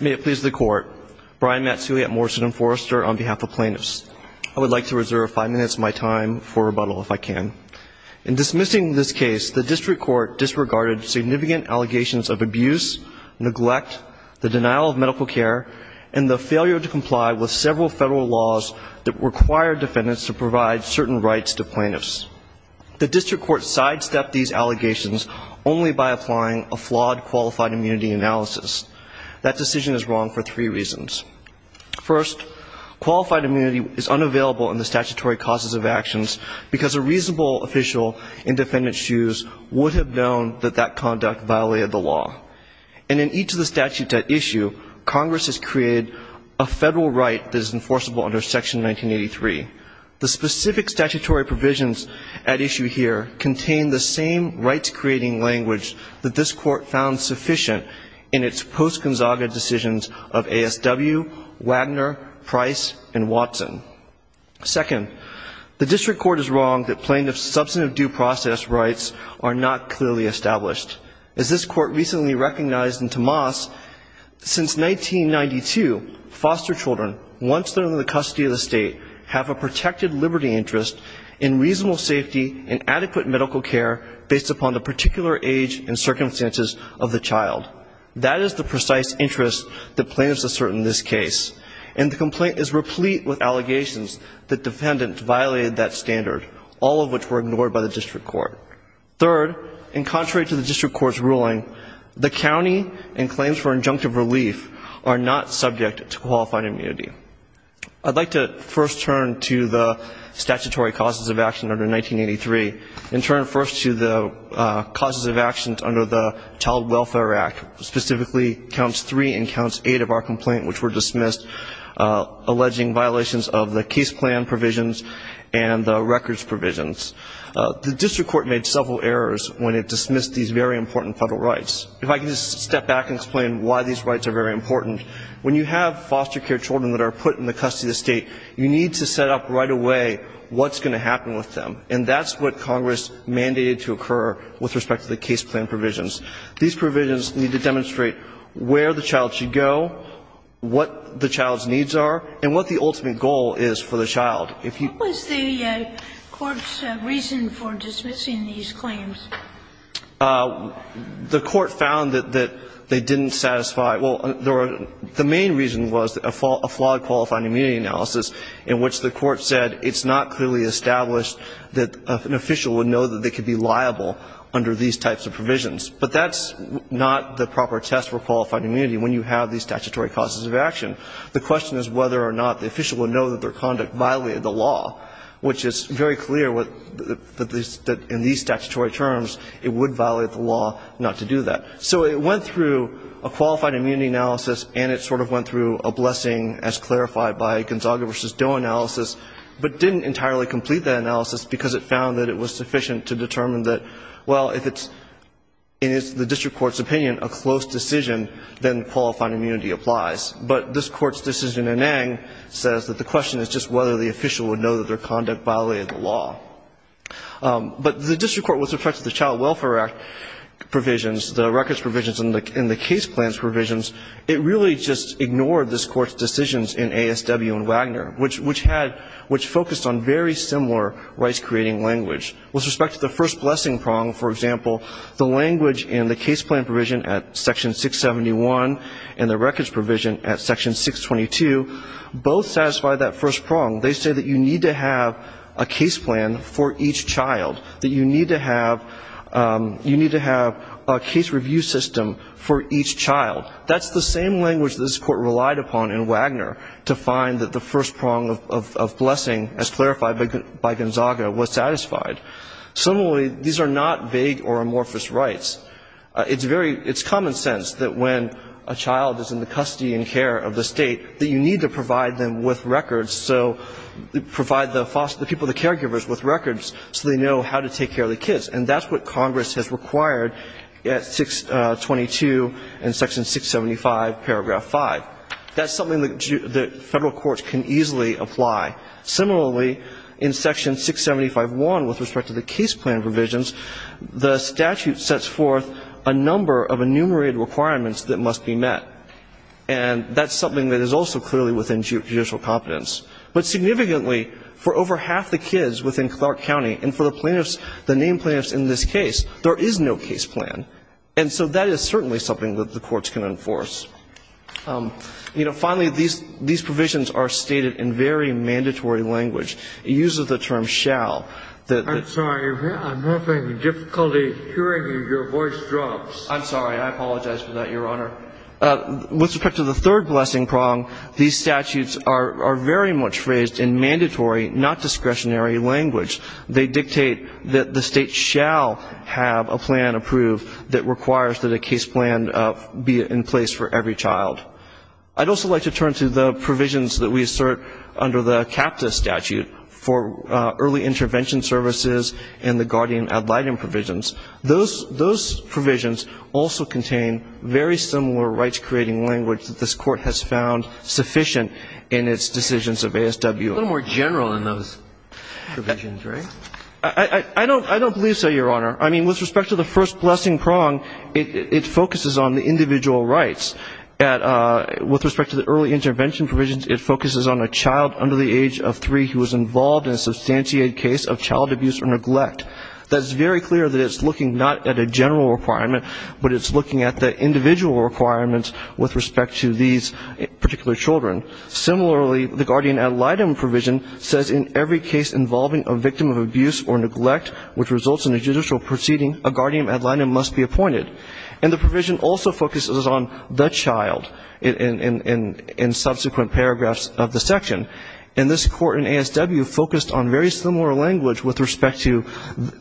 May it please the Court. Brian Matsui at Morrison & Forrester on behalf of plaintiffs. I would like to reserve five minutes of my time for rebuttal, if I can. In dismissing this case, the District Court disregarded significant allegations of abuse, neglect, the denial of medical care, and the failure to comply with several Federal laws that require defendants to provide certain rights to plaintiffs. The District Court sidestepped these allegations only by applying a flawed qualified immunity analysis. That decision is wrong for three reasons. First, qualified immunity is unavailable in the statutory causes of actions because a reasonable official in defendant's shoes would have known that that conduct violated the law. And in each of the statutes at issue, Congress has created a Federal right that is enforceable under Section 1983. The specific statutory provisions at issue here contain the same rights-creating language that this Court found sufficient in its post-Gonzaga decisions of ASW, Wagner, Price, and Watson. Second, the District Court is wrong that plaintiffs' substantive due process rights are not clearly established. As this Court recently recognized in Tomas, since 1992, foster children, once they're in the custody of the state, have a protected liberty interest in reasonable safety and adequate medical care based upon the particular age and circumstances of the child. That is the precise interest that plaintiffs assert in this case. And the complaint is replete with allegations that defendants violated that standard, all of which were ignored by the District Court. Third, and contrary to the District Court's ruling, the county and claims for injunctive relief are not subject to qualified immunity. I'd like to first turn to the statutory causes of action under 1983 and turn first to the causes of actions under the Child Welfare Act, specifically Counts 3 and Counts 8 of our complaint, which were dismissed, alleging violations of the case plan provisions and the District Court made several errors when it dismissed these very important federal rights. If I could just step back and explain why these rights are very important, when you have foster care children that are put in the custody of the state, you need to set up right away what's going to happen with them. And that's what Congress mandated to occur with respect to the case plan provisions. These provisions need to demonstrate where the child should go, what the child's needs are, and what the ultimate goal is for the child. If you ---- What was the Court's reason for dismissing these claims? The Court found that they didn't satisfy ñ well, the main reason was a flawed qualified immunity analysis in which the Court said it's not clearly established that an official would know that they could be liable under these types of provisions. But that's not the proper test for qualified immunity when you have these statutory causes of action. The question is whether or not the official would know that their conduct violated the law, which is very clear that in these statutory terms it would violate the law not to do that. So it went through a qualified immunity analysis and it sort of went through a blessing as clarified by Gonzaga v. Doe analysis, but didn't entirely complete that analysis because it found that it was sufficient to determine that, well, if it's in the district court's opinion a close decision, then qualified immunity applies. But this Court's decision in Ng says that the question is just whether the official would know that their conduct violated the law. But the district court with respect to the Child Welfare Act provisions, the records provisions and the case plans provisions, it really just ignored this Court's decisions in ASW and Wagner, which had, which focused on very similar rights-creating language. With respect to the first blessing prong, for example, the language in the case plan provision at Section 671 and the records provision at Section 622 both satisfy that first prong. They say that you need to have a case plan for each child. That's the same language that this Court relied upon in Wagner to find that the first prong of blessing, as clarified by Gonzaga, was satisfied. Similarly, these are not vague or amorphous rights. It's very, it's common sense that when a child is in the custody and care of the State that you need to provide them with records, so provide the foster, the people, the caregivers with records so they know how to take care of the kids. And that's what Congress has required at 622 and Section 675, Paragraph 5. That's something that federal courts can easily apply. Similarly, in Section 675.1 with respect to the case plan provisions, the statute sets forth a number of enumerated requirements that must be met. And that's something that is also clearly within judicial competence. But significantly, for over half the kids within Clark County, and for the plaintiffs, the named plaintiffs in this case, there is no case plan. And so that is certainly something that the courts can enforce. You know, finally, these provisions are stated in very mandatory language. It uses the term shall. I'm sorry. I'm having difficulty hearing your voice drops. I'm sorry. I apologize for that, Your Honor. With respect to the third blessing prong, these statutes are very much phrased in mandatory, not discretionary language. They dictate that the state shall have a plan approved that requires that a case plan be in place for every child. I'd also like to turn to the provisions that we assert under the CAPTA statute for early intervention services and the guardian ad litem provisions. Those provisions also contain very similar rights-creating language that this court has used. And I'm wondering if you could talk a little more generally about those provisions, right? I don't believe so, Your Honor. I mean, with respect to the first blessing prong, it focuses on the individual rights. With respect to the early intervention provisions, it focuses on a child under the age of 3 who is involved in a substantiated case of child abuse or neglect. Similarly, the guardian ad litem provision says in every case involving a victim of abuse or neglect which results in a judicial proceeding, a guardian ad litem must be appointed. And the provision also focuses on the child in subsequent paragraphs of the section. And this court in ASW focused on very similar language with respect to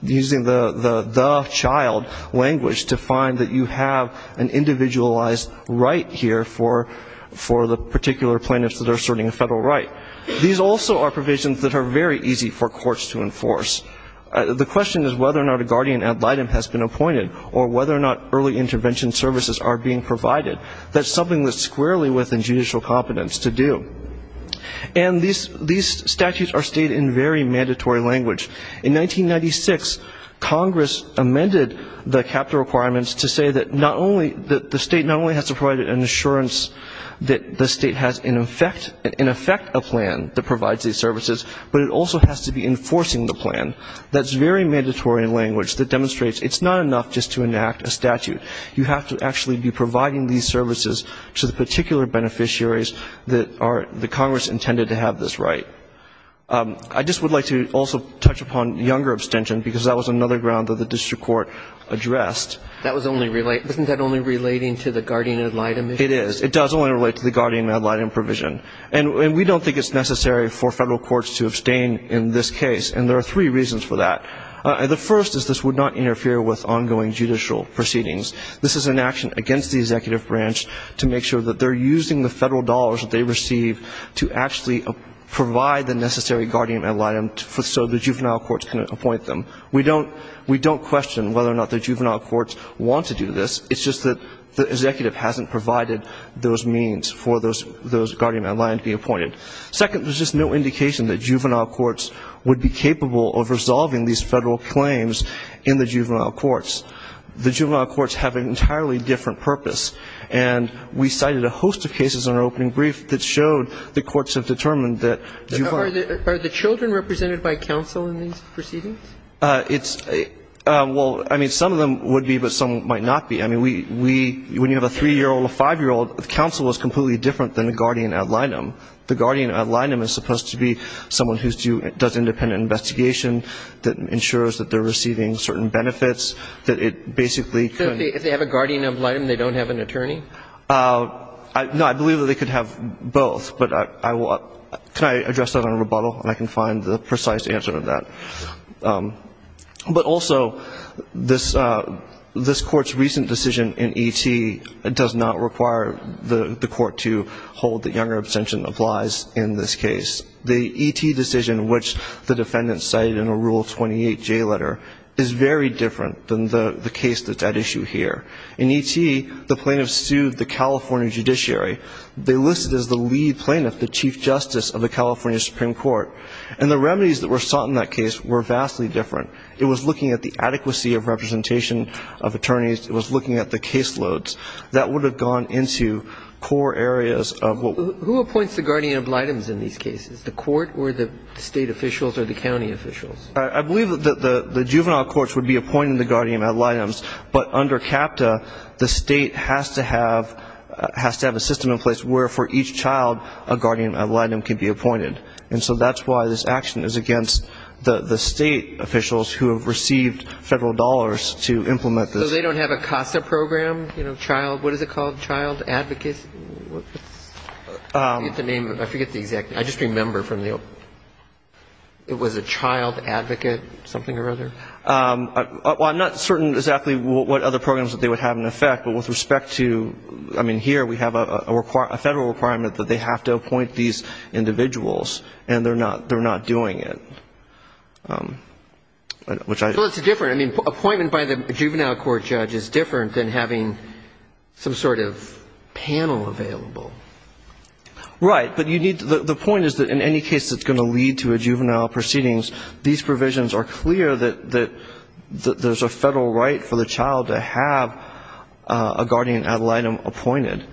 using the child language to find that you have an individualized right here for the particular plaintiffs that are asserting a federal right. These also are provisions that are very easy for courts to enforce. The question is whether or not a guardian ad litem has been appointed or whether or not early intervention services are being provided. That's something that's squarely within judicial competence to do. And these statutes are stated in very mandatory language. In 1996, Congress amended the CAPTA requirements to say that not only that the state not only has to provide an assurance that the state has in effect a plan that provides these services, but it also has to be enforcing the plan. That's very mandatory language that demonstrates it's not enough just to enact a statute. You have to actually be providing these services to the particular beneficiaries that are the Congress intended to have this right. I just would like to also touch upon younger abstention, because that was another ground that the district court addressed. Isn't that only relating to the guardian ad litem issue? It is. It does only relate to the guardian ad litem provision. And we don't think it's necessary for federal courts to abstain in this case. And there are three reasons for that. The first is this would not interfere with ongoing judicial proceedings. This is an action against the executive branch to make sure that they're using the federal dollars that they receive to actually provide the necessary guardian ad litem so the juvenile courts can appoint them. We don't question whether or not the juvenile courts want to do this. It's just that the executive hasn't provided those means for those guardian ad litem to be appointed. Second, there's just no indication that juvenile courts would be capable of resolving these federal claims in the juvenile courts. The juvenile courts have an entirely different purpose. And we cited a host of cases in our opening brief that showed the courts have determined that juvenile courts Are the children represented by counsel in these proceedings? It's – well, I mean, some of them would be, but some might not be. I mean, we – when you have a 3-year-old, a 5-year-old, the counsel is completely different than the guardian ad litem. The guardian ad litem is supposed to be someone who does independent investigation, that ensures that they're receiving certain benefits, that it basically So if they have a guardian ad litem, they don't have an attorney? No, I believe that they could have both. But I will – can I address that on rebuttal? And I can find the precise answer to that. But also, this Court's recent decision in E.T. does not require the Court to hold that younger abstention applies in this case. The E.T. decision, which the defendants cited in a Rule 28J letter, is very different than the case that's at issue here. In E.T., the plaintiffs sued the California judiciary. They listed as the lead plaintiff the Chief Justice of the California Supreme Court. And the remedies that were sought in that case were vastly different. It was looking at the adequacy of representation of attorneys. It was looking at the caseloads. That would have gone into core areas of what – Who appoints the guardian ad litems in these cases? The Court or the state officials or the county officials? I believe that the juvenile courts would be appointing the guardian ad litems. But under CAPTA, the state has to have a system in place where, for each child, a guardian ad litem can be appointed. And so that's why this action is against the state officials who have received federal dollars to implement this. So they don't have a CASA program? You know, Child – what is it called? Child Advocacy – what's the name? I forget the exact name. I just remember from the – it was a Child Advocate something or other? Well, I'm not certain exactly what other programs that they would have in effect. But with respect to – I mean, here we have a federal requirement that they have to appoint these individuals. And they're not doing it, which I – Well, it's different. I mean, appointment by the juvenile court judge is different than having some sort of panel available. Right. But you need – the point is that in any case that's going to lead to a juvenile proceedings, these provisions are clear that there's a federal right for the child to have a guardian ad litem appointed.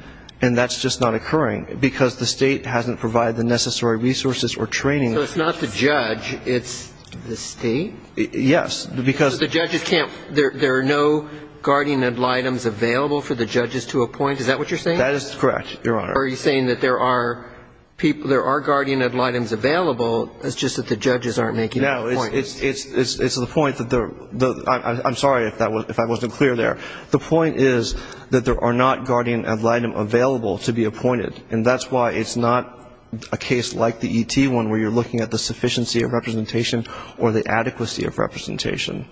And that's just not occurring because the state hasn't provided the necessary resources or training. So it's not the judge. It's the state? Yes, because – So the judges can't – there are no guardian ad litems available for the judges to appoint? Is that what you're saying? That is correct, Your Honor. Are you saying that there are guardian ad litems available? It's just that the judges aren't making that point. No. It's the point that the – I'm sorry if I wasn't clear there. The point is that there are not guardian ad litem available to be appointed. And that's why it's not a case like the ET one where you're looking at the sufficiency of representation or the adequacy of representation.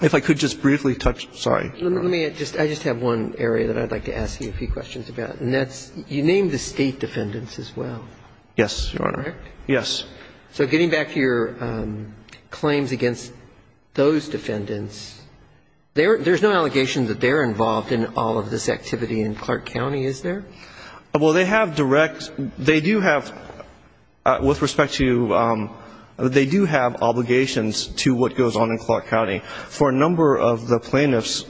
If I could just briefly touch – sorry. Let me – I just have one area that I'd like to ask you a few questions about. And that's – you named the state defendants as well, correct? Yes, Your Honor. Yes. So getting back to your claims against those defendants, there's no allegation that they're involved in all of this activity in Clark County, is there? Well, they have direct – they do have, with respect to – they do have obligations to what goes on in Clark County. For a number of the plaintiffs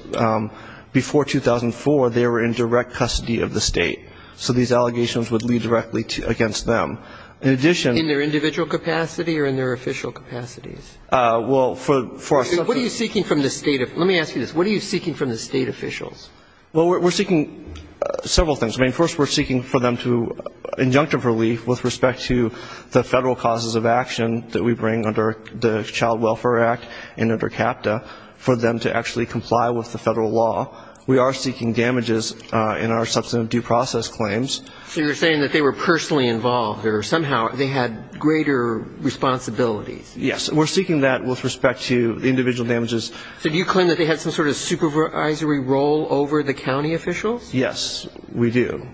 before 2004, they were in direct custody of the state. So these allegations would lead directly against them. In addition – In their individual capacity or in their official capacities? Well, for – What are you seeking from the state – let me ask you this. What are you seeking from the state officials? Well, we're seeking several things. I mean, first we're seeking for them to – injunctive relief with respect to the federal causes of action that we bring under the Child Welfare Act and under CAPTA, for them to actually comply with the federal law. We are seeking damages in our substantive due process claims. So you're saying that they were personally involved, or somehow they had greater responsibilities. Yes. And we're seeking that with respect to the individual damages. So do you claim that they had some sort of supervisory role over the county officials? Yes, we do.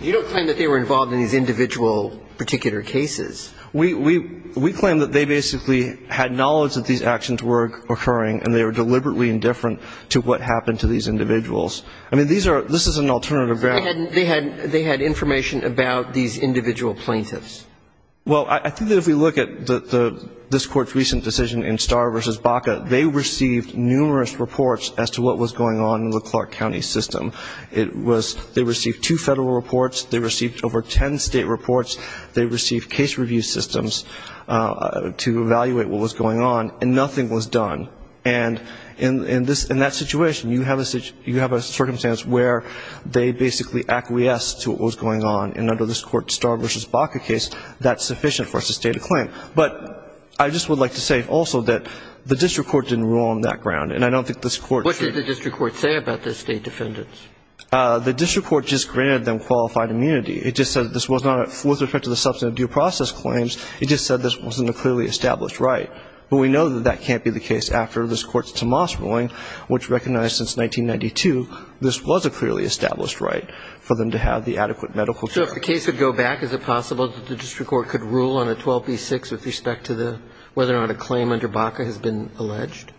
You don't claim that they were involved in these individual particular cases. We claim that they basically had knowledge that these actions were occurring and they were deliberately indifferent to what happened to these individuals. I mean, these are – this is an alternative ground. They had information about these individual plaintiffs. Well, I think that if we look at this Court's recent decision in Starr v. Baca, they received numerous reports as to what was going on in the Clark County system. It was – they received two federal reports. They received over ten state reports. They received case review systems to evaluate what was going on. And nothing was done. And in that situation, you have a circumstance where they basically acquiesced to what was going on. And under this Court's Starr v. Baca case, that's sufficient for us to state a claim. But I just would like to say also that the district court didn't rule on that ground. And I don't think this Court should – What did the district court say about the state defendants? The district court just granted them qualified immunity. It just said this was not – with respect to the substantive due process claims, it just said this wasn't a clearly established right. But we know that that can't be the case after this Court's Tomas ruling, which recognized since 1992 this was a clearly established right for them to have the adequate medical care. So if the case would go back, is it possible that the district court could rule on a 12b-6 with respect to the – whether or not a claim under Baca has been alleged?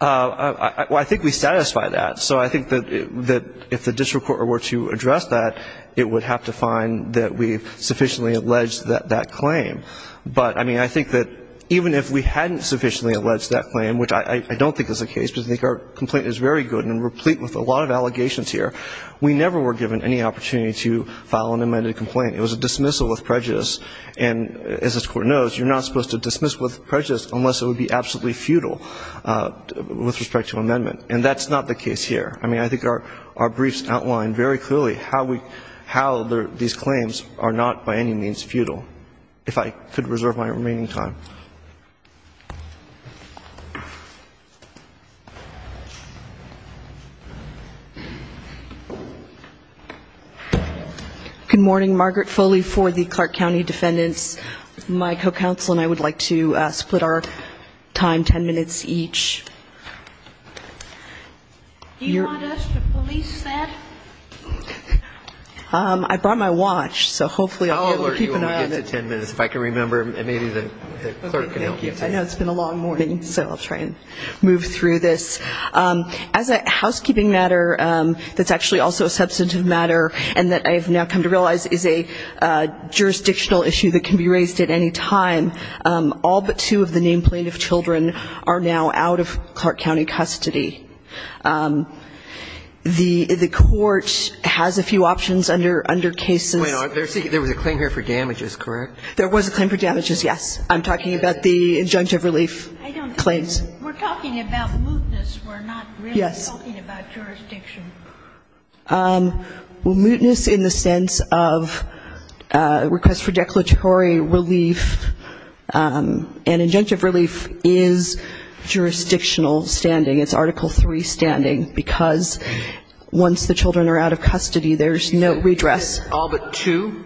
Well, I think we satisfy that. So I think that if the district court were to address that, it would have to find that we've sufficiently alleged that claim. But, I mean, I think that even if we hadn't sufficiently alleged that claim, which I don't think is the case because I think our complaint is very good and replete with a lot of allegations here, we never were given any opportunity to file an amended complaint. It was a dismissal with prejudice. And as this Court knows, you're not supposed to dismiss with prejudice unless it would be absolutely futile with respect to amendment. And that's not the case here. I mean, I think our briefs outline very clearly how these claims are not by any means futile. If I could reserve my remaining time. Good morning. Margaret Foley for the Clark County Defendants. My co-counsel and I would like to split our time ten minutes each. Do you want us to police that? I brought my watch, so hopefully I'll be able to keep an eye on it. I'll alert you when we get to ten minutes, if I can remember. And maybe the clerk can help you. I know it's been a long morning, so I'll try and move through this. As a housekeeping matter that's actually also a substantive matter and that I have now come to realize is a jurisdictional issue that can be raised at any time, all but two of the named plaintiff children are now out of Clark County custody. The Court has a few options under cases. There was a claim here for damages, correct? There was a claim for damages, yes. I'm talking about the injunctive relief claims. We're talking about mootness. We're not really talking about jurisdiction. Well, mootness in the sense of request for declaratory relief and injunctive relief is jurisdictional standing. It's Article III standing, because once the children are out of custody, there's no redress. All but two?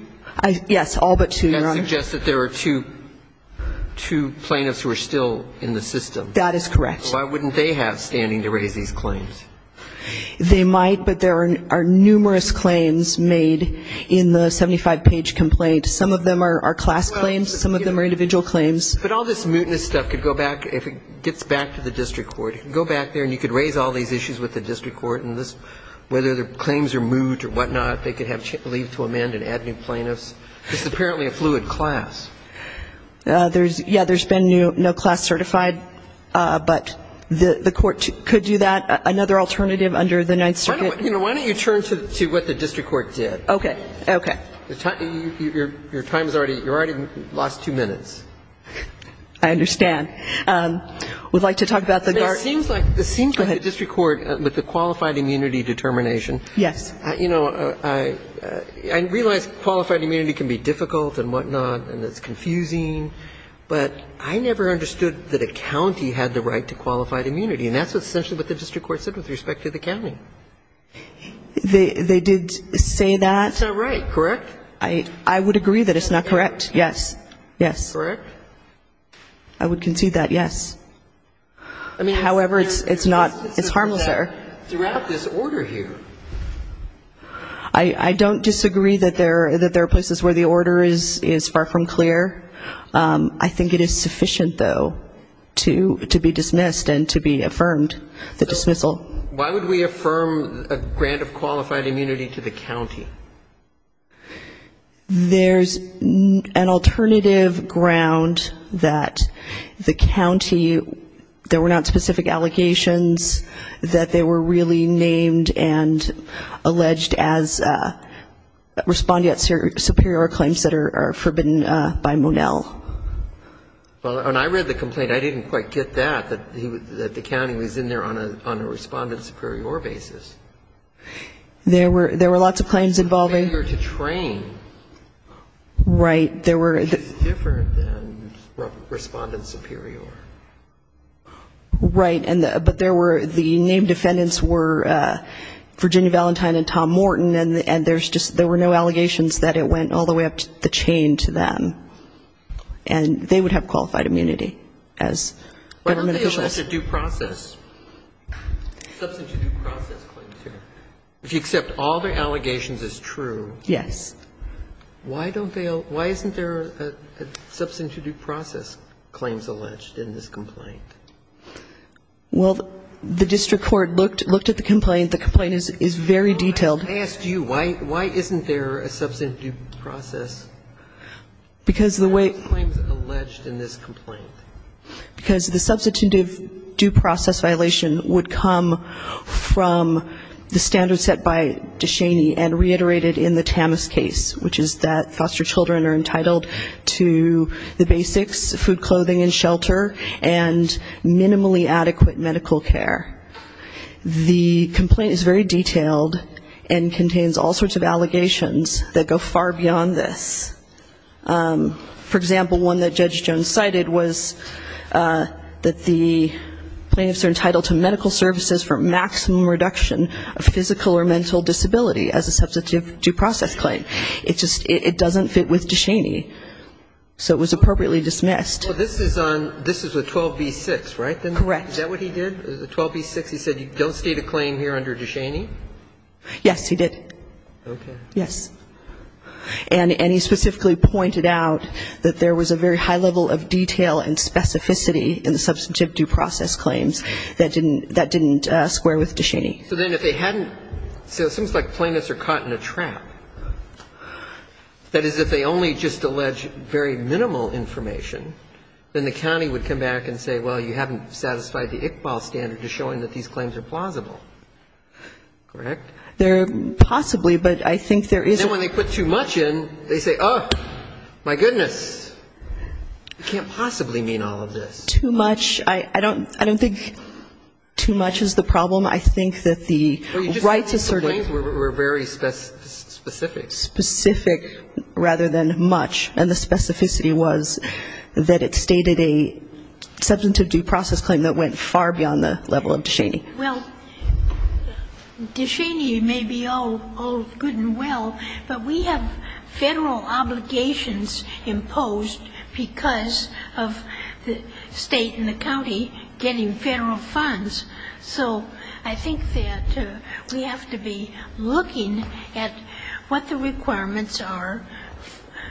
Yes, all but two, Your Honor. That suggests that there are two plaintiffs who are still in the system. That is correct. Why wouldn't they have standing to raise these claims? They might, but there are numerous claims made in the 75-page complaint. Some of them are class claims. Some of them are individual claims. But all this mootness stuff could go back, if it gets back to the district court, it could go back there and you could raise all these issues with the district court, and whether the claims are moot or whatnot, they could have leave to amend and add new plaintiffs. This is apparently a fluid class. Yes, there's been no class certified, but the court could do that. Another alternative under the Ninth Circuit? Why don't you turn to what the district court did? Okay. Okay. Your time is already, you already lost two minutes. I understand. We'd like to talk about the guard. It seems like the district court with the qualified immunity determination. Yes. You know, I realize qualified immunity can be difficult and whatnot and it's confusing, but I never understood that a county had the right to qualified immunity, and that's essentially what the district court said with respect to the county. They did say that. That's not right, correct? I would agree that it's not correct, yes. Yes. Correct? I would concede that, yes. However, it's not, it's harmless there. Throughout this order here. I don't disagree that there are places where the order is far from clear. I think it is sufficient, though, to be dismissed and to be affirmed, the dismissal. Why would we affirm a grant of qualified immunity to the county? There's an alternative ground that the county, there were not specific allegations that they were really named and alleged as respondent superior claims that are forbidden by Monell. Well, and I read the complaint. I didn't quite get that, that the county was in there on a respondent superior basis. There were lots of claims involving. A failure to train. Right. Which is different than respondent superior. Right. But there were, the named defendants were Virginia Valentine and Tom Morton, and there's just, there were no allegations that it went all the way up the chain to them. And they would have qualified immunity as government officials. Why don't they allege a due process? Substantive due process claims here. If you accept all their allegations as true. Yes. Why don't they all, why isn't there a substantive due process claims alleged in this complaint? Well, the district court looked at the complaint. The complaint is very detailed. I asked you, why isn't there a substantive due process? Because the way. Claims alleged in this complaint. Because the substantive due process violation would come from the standard set by DeShaney and reiterated in the Tamas case, which is that foster children are entitled to the basics, food, clothing, and shelter, and minimally adequate medical care. The complaint is very detailed and contains all sorts of allegations that go far beyond this. For example, one that Judge Jones cited was that the plaintiffs are entitled to medical services for maximum reduction of physical or mental disability as a substantive due process claim. It just, it doesn't fit with DeShaney. So it was appropriately dismissed. Well, this is on, this is with 12b-6, right? Correct. Is that what he did? 12b-6, he said, don't state a claim here under DeShaney? Yes, he did. Okay. Yes. And he specifically pointed out that there was a very high level of detail and specificity in the So then if they hadn't, so it seems like plaintiffs are caught in a trap. That is, if they only just allege very minimal information, then the county would come back and say, well, you haven't satisfied the Iqbal standard to show them that these claims are plausible. Correct? They're possibly, but I think there isn't. Then when they put too much in, they say, oh, my goodness, you can't possibly mean all of this. I don't think too much is the problem. I think that the rights asserted were very specific. Specific rather than much. And the specificity was that it stated a substantive due process claim that went far beyond the level of DeShaney. Well, DeShaney may be all good and well, but we have Federal obligations imposed because of the state and the county getting Federal funds. So I think that we have to be looking at what the requirements are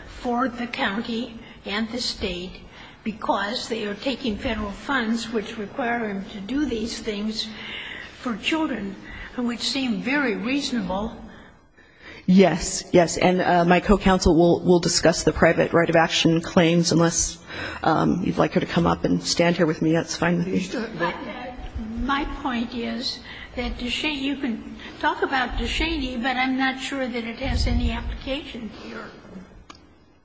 for the county and the state, because they are taking Federal funds which require them to do these things for children, which seem very reasonable. Yes. Yes. And my co-counsel will discuss the private right of action claims unless you'd like her to come up and stand here with me. That's fine with me. But my point is that DeShaney, you can talk about DeShaney, but I'm not sure that it has any application here.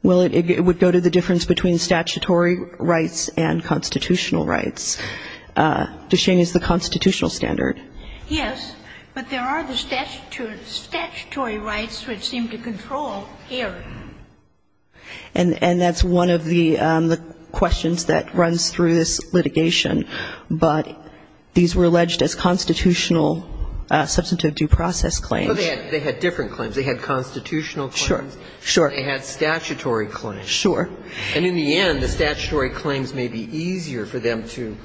Well, it would go to the difference between statutory rights and constitutional rights. DeShaney is the constitutional standard. Yes. But there are the statutory rights which seem to control here. And that's one of the questions that runs through this litigation. But these were alleged as constitutional substantive due process claims. Well, they had different claims. They had constitutional claims. Sure. They had statutory claims. Sure. And in the end, the statutory claims may be easier for them to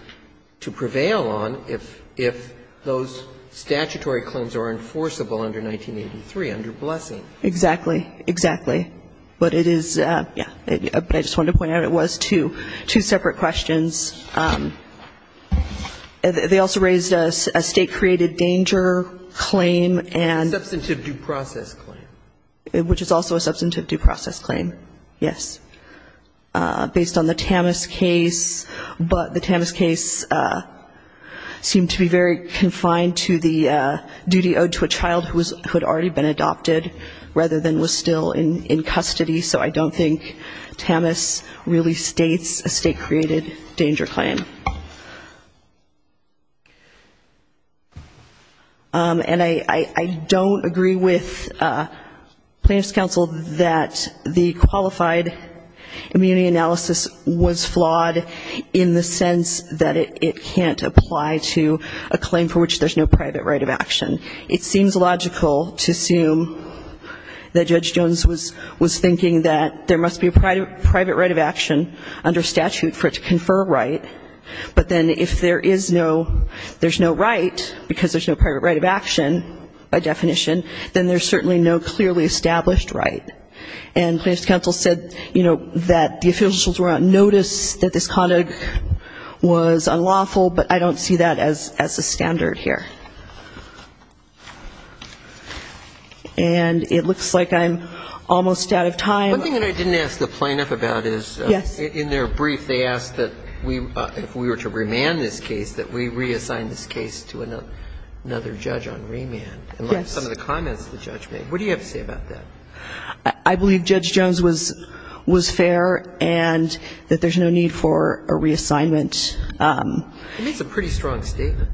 prevail on if those statutory claims are enforceable under 1983, under Blessing. Exactly. Exactly. But it is, yeah. But I just wanted to point out it was two separate questions. They also raised a state-created danger claim and ---- Substantive due process claim. Which is also a substantive due process claim, yes. Based on the Tamas case. But the Tamas case seemed to be very confined to the duty owed to a child who had already been adopted rather than was still in custody. So I don't think Tamas really states a state-created danger claim. And I don't agree with plaintiff's counsel that the qualified immunity analysis was flawed in the sense that it can't apply to a claim for which there's no private right of action. It seems logical to assume that Judge Jones was thinking that there must be a private right of action under statute for it to confer right. But then if there is no, there's no right, because there's no private right of action by definition, then there's certainly no clearly established right. And plaintiff's counsel said, you know, that the officials were on notice that this conduct was unlawful, but I don't see that as a standard here. And it looks like I'm almost out of time. One thing that I didn't ask the plaintiff about is in their brief, they asked that if we were to remand this case, that we reassign this case to another judge on remand. And like some of the comments the judge made, what do you have to say about that? I believe Judge Jones was fair and that there's no need for a reassignment. He made some pretty strong statements.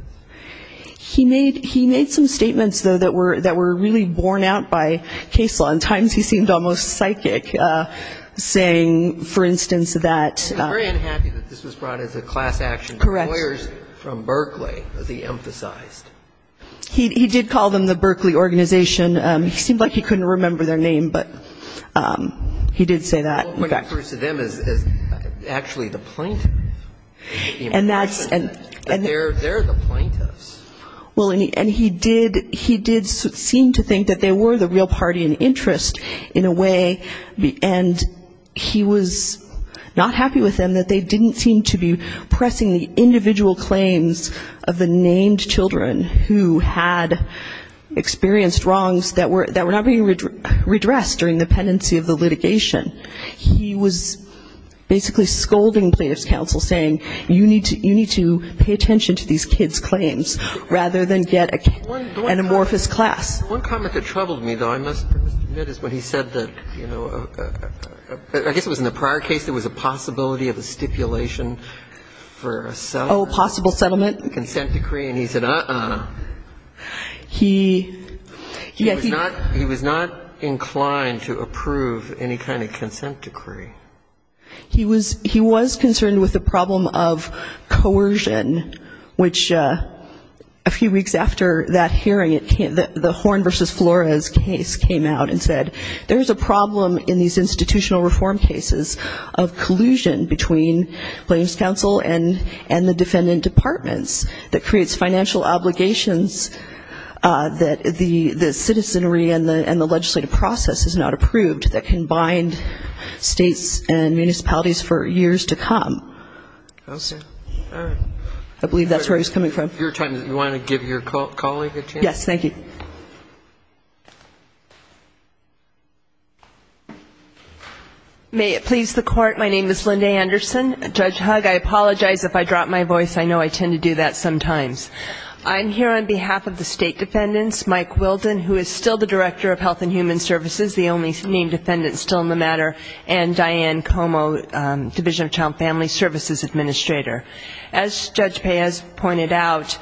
He made some statements, though, that were really borne out by case law. At times he seemed almost psychic, saying, for instance, that ---- I'm very unhappy that this was brought as a class action. Correct. Lawyers from Berkeley, as he emphasized. He did call them the Berkeley Organization. It seemed like he couldn't remember their name, but he did say that. What occurs to them is actually the plaintiff. And that's ---- They're the plaintiffs. Well, and he did seem to think that they were the real party in interest in a way, and he was not happy with them, that they didn't seem to be pressing the individual claims of the named children who had experienced wrongs that were not being redressed during the pendency of the litigation. He was basically scolding plaintiff's counsel, saying, you need to pay attention to these kids' claims rather than get an amorphous class. One comment that troubled me, though, I must admit, is when he said that, you know, I guess it was in the prior case there was a possibility of a stipulation for a settlement. Oh, possible settlement. Consent decree. And he said, uh-uh. He ---- He was not inclined to approve any kind of consent decree. He was concerned with the problem of coercion, which a few weeks after that hearing, the Horn v. Flores case came out and said there's a problem in these institutional reform cases of collusion between plaintiff's counsel and the defendant departments that creates financial obligations that the citizenry and the legislative process has not approved that can bind states and municipalities for years to come. I believe that's where he was coming from. You want to give your colleague a chance? Yes. Thank you. May it please the Court, my name is Linda Anderson. Judge Hugg, I apologize if I drop my voice. I know I tend to do that sometimes. I'm here on behalf of the state defendants, Mike Wilden, who is still the Director of Health and Human Services, the only named defendant still in the matter, and Diane Como, Division of Child and Family Services Administrator. As Judge Paez pointed out,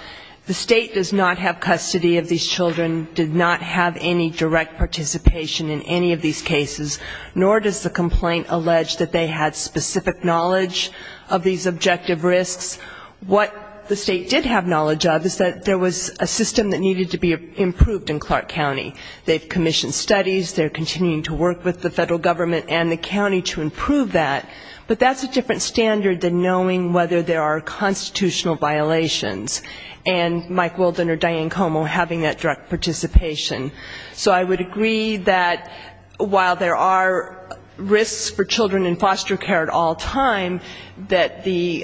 the state does not have custody of these children, did not have any direct participation in any of these cases, nor does the complaint allege that they had specific knowledge of these objective risks. What the state did have knowledge of is that there was a system that needed to be improved in Clark County. They've commissioned studies, they're continuing to work with the federal government and the county to improve that, but that's a different standard than knowing whether there are constitutional violations, and Mike Wilden or Diane Como having that direct participation. So I would agree that while there are risks for children in foster care at all time, that the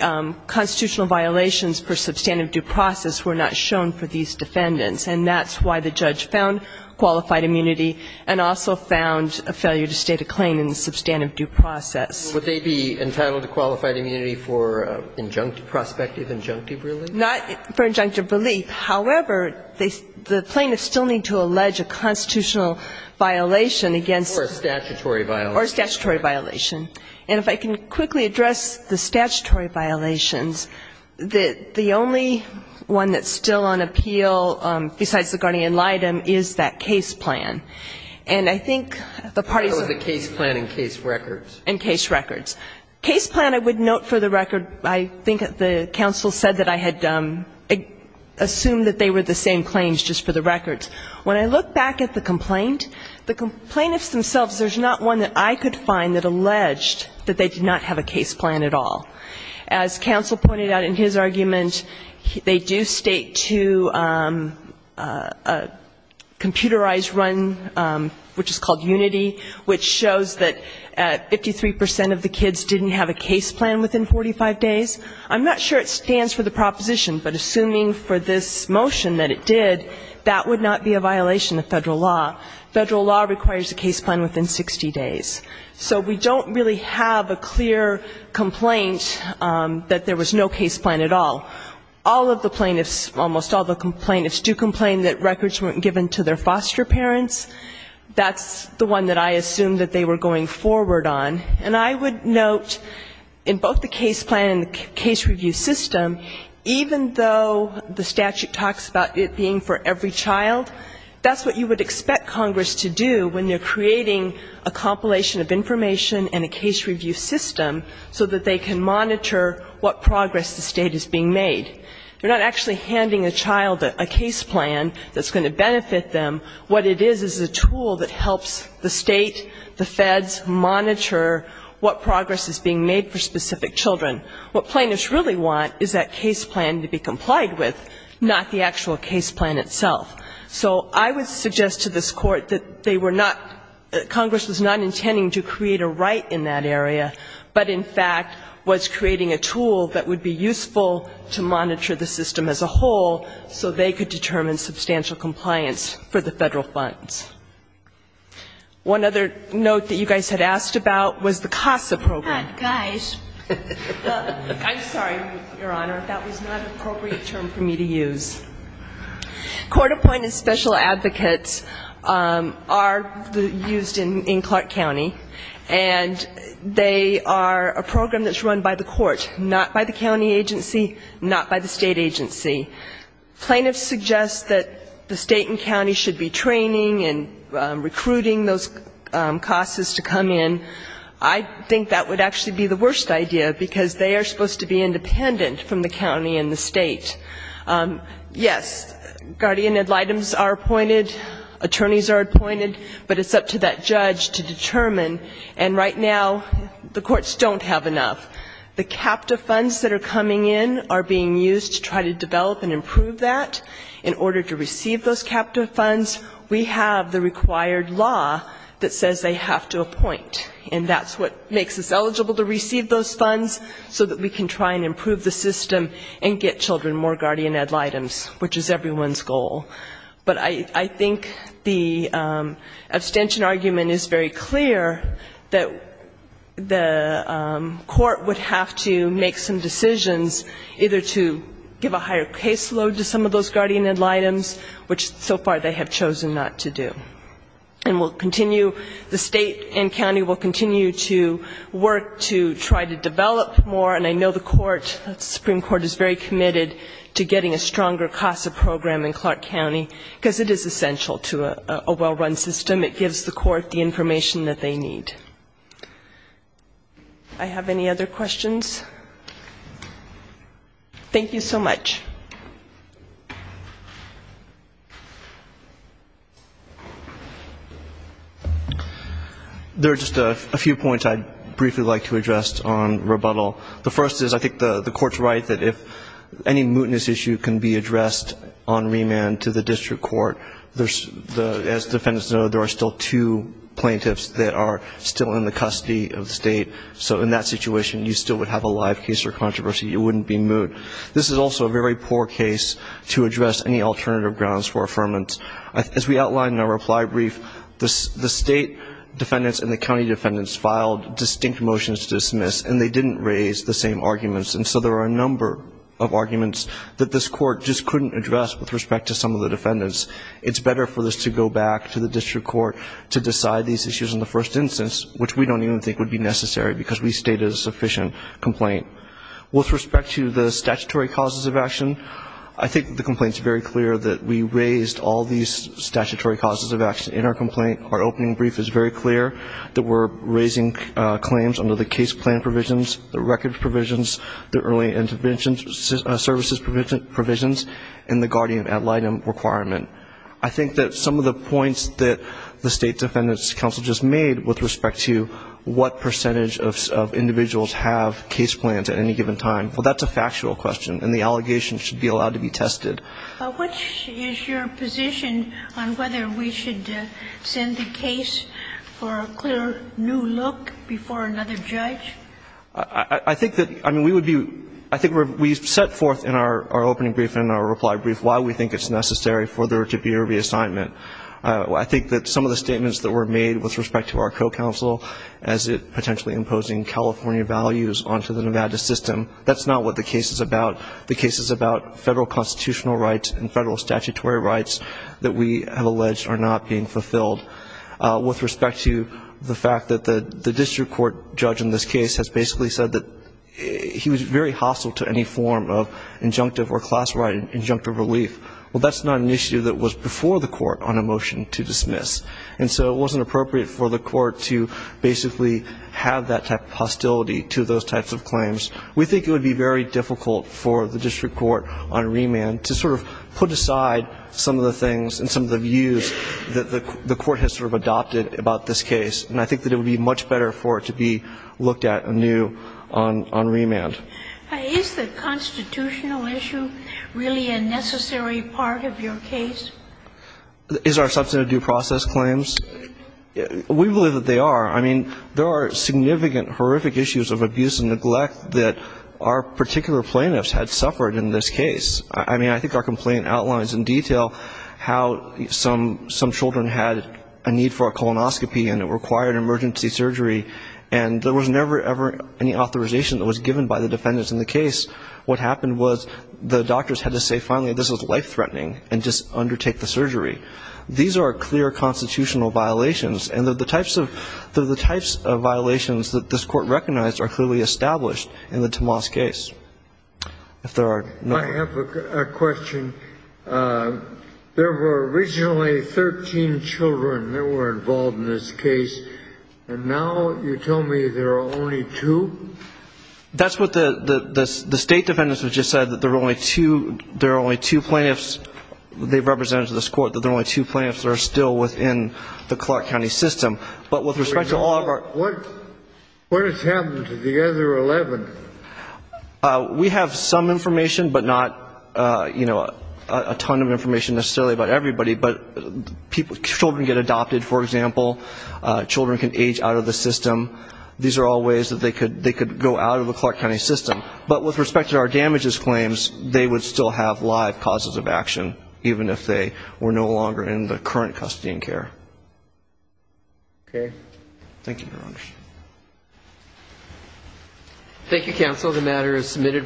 constitutional violations for substantive due process were not shown for these defendants. And that's why the judge found qualified immunity and also found a failure to state a claim in the substantive due process. Would they be entitled to qualified immunity for injunctive, prospective injunctive relief? Not for injunctive relief. However, the plaintiffs still need to allege a constitutional violation against them. Or a statutory violation. Or a statutory violation. And if I can quickly address the statutory violations, the only one that's still on appeal besides the guardian litem is that case plan. And I think the parties of the case plan and case records. And case records. Case plan, I would note for the record, I think the counsel said that I had assumed that they were the same claims just for the records. When I look back at the complaint, the plaintiffs themselves, there's not one that I could find that alleged that they did not have a case plan at all. As counsel pointed out in his argument, they do state to a computerized run, which is called unity, which shows that 53% of the kids didn't have a case plan within 45 days. I'm not sure it stands for the proposition, but assuming for this motion that it did, that would not be a violation of federal law. Federal law requires a case plan within 60 days. So we don't really have a clear complaint that there was no case plan at all. All of the plaintiffs, almost all of the plaintiffs, do complain that records weren't given to their foster parents. That's the one that I assumed that they were going forward on. And I would note in both the case plan and the case review system, even though the statute talks about it being for every child, that's what you would expect Congress to do when you're creating a compilation of information and a case review system so that they can monitor what progress the State is being made. You're not actually handing a child a case plan that's going to benefit them. What it is is a tool that helps the State, the feds, monitor what progress is being made for specific children. What plaintiffs really want is that case plan to be complied with, not the actual case plan itself. So I would suggest to this Court that they were not, Congress was not intending to create a right in that area, but in fact was creating a tool that would be useful to monitor the system as a whole so they could determine substantial compliance for the federal funds. One other note that you guys had asked about was the CASA program. I'm sorry, Your Honor, that was not an appropriate term for me to use. Court-appointed special advocates are used in Clark County, and they are a program that's run by the Court, not by the county agency, not by the state agency. Plaintiffs suggest that the state and county should be training and recruiting those CASAs to come in. I think that would actually be the worst idea, because they are supposed to be independent from the county and the state. Yes, guardian ad litems are appointed, attorneys are appointed, but it's up to that judge to determine. And right now the courts don't have enough. The captive funds that are coming in are being used to try to develop and improve that. In order to receive those captive funds, we have the required law that says they have to appoint, and that's what makes us eligible to receive those funds so that we can try and improve the system and get children more guardian ad litems, which is everyone's goal. But I think the abstention argument is very clear, that the court would have to make some decisions, either to give a higher caseload to some of those guardian ad litems, which so far they have chosen not to do. And we'll continue, the state and county will continue to work to try to develop more, and I know the Supreme Court is very committed to getting a stronger CASA program in Clark County, because it is essential to a well-run system. It gives the court the information that they need. I have any other questions? Thank you so much. There are just a few points I'd briefly like to address on rebuttal. The first is I think the court's right that if any mootness issue can be addressed on remand to the district court, as defendants know, there are still two plaintiffs that are still in the custody of the state, so in that situation you still would have a live case or controversy. It wouldn't be moot. This is also a very poor case to address any alternative grounds for affirmance. As we outlined in our reply brief, the state defendants and the county defendants filed distinct motions to dismiss, and they didn't raise the same arguments, and so there are a number of arguments that this court just couldn't address with respect to some of the defendants. It's better for this to go back to the district court to decide these issues in the first instance, which we don't even think would be necessary because we stated a sufficient complaint. With respect to the statutory causes of action, I think the complaint's very clear that we raised all these statutory causes of action in our complaint. Our opening brief is very clear that we're raising claims under the case plan provisions, the record provisions, the early intervention services provisions, and the guardian ad litem requirement. I think that some of the points that the state defendants' counsel just made with respect to what percentage of individuals have case plans at any given time, well, that's a factual question, and the allegations should be allowed to be tested. Which is your position on whether we should send the case for a clear new look before another judge? I think that, I mean, we would be, I think we set forth in our opening brief and our reply brief why we think it's necessary for there to be a reassignment. I think that some of the statements that were made with respect to our co-counsel as potentially imposing California values onto the Nevada system, that's not what the case is about. The case is about federal constitutional rights and federal statutory rights that we have alleged are not being fulfilled. With respect to the fact that the district court judge in this case has basically said that he was very hostile to any form of initiative that was before the court on a motion to dismiss. And so it wasn't appropriate for the court to basically have that type of hostility to those types of claims. We think it would be very difficult for the district court on remand to sort of put aside some of the things and some of the views that the court has sort of adopted about this case. And I think that it would be much better for it to be looked at anew on remand. Is the constitutional issue really a necessary part of your case? Is our substantive due process claims? We believe that they are. I mean, there are significant horrific issues of abuse and neglect that our particular plaintiffs had suffered in this case. I mean, I think our complaint outlines in detail how some children had a need for a colonoscopy and it required emergency surgery, and there was never, ever any authorization that was given by the defendants in the case. What happened was the doctors had to say, finally, this is life-threatening, and just undertake the surgery. These are clear constitutional violations. And the types of violations that this court recognized are clearly established in the Tomas case. If there are no other questions. Thank you. I have a question. There were originally 13 children that were involved in this case, and now you tell me there are only two? That's what the state defendants have just said, that there are only two plaintiffs. They've represented to this court that there are only two plaintiffs that are still within the Clark County system. What has happened to the other 11? We have some information, but not, you know, a ton of information necessarily about everybody. But children get adopted, for example. Children can age out of the system. These are all ways that they could go out of the Clark County system. But with respect to our damages claims, they would still have live causes of action, even if they were no longer in the current custody and care. Thank you, Your Honor. Thank you, counsel. The matter is submitted.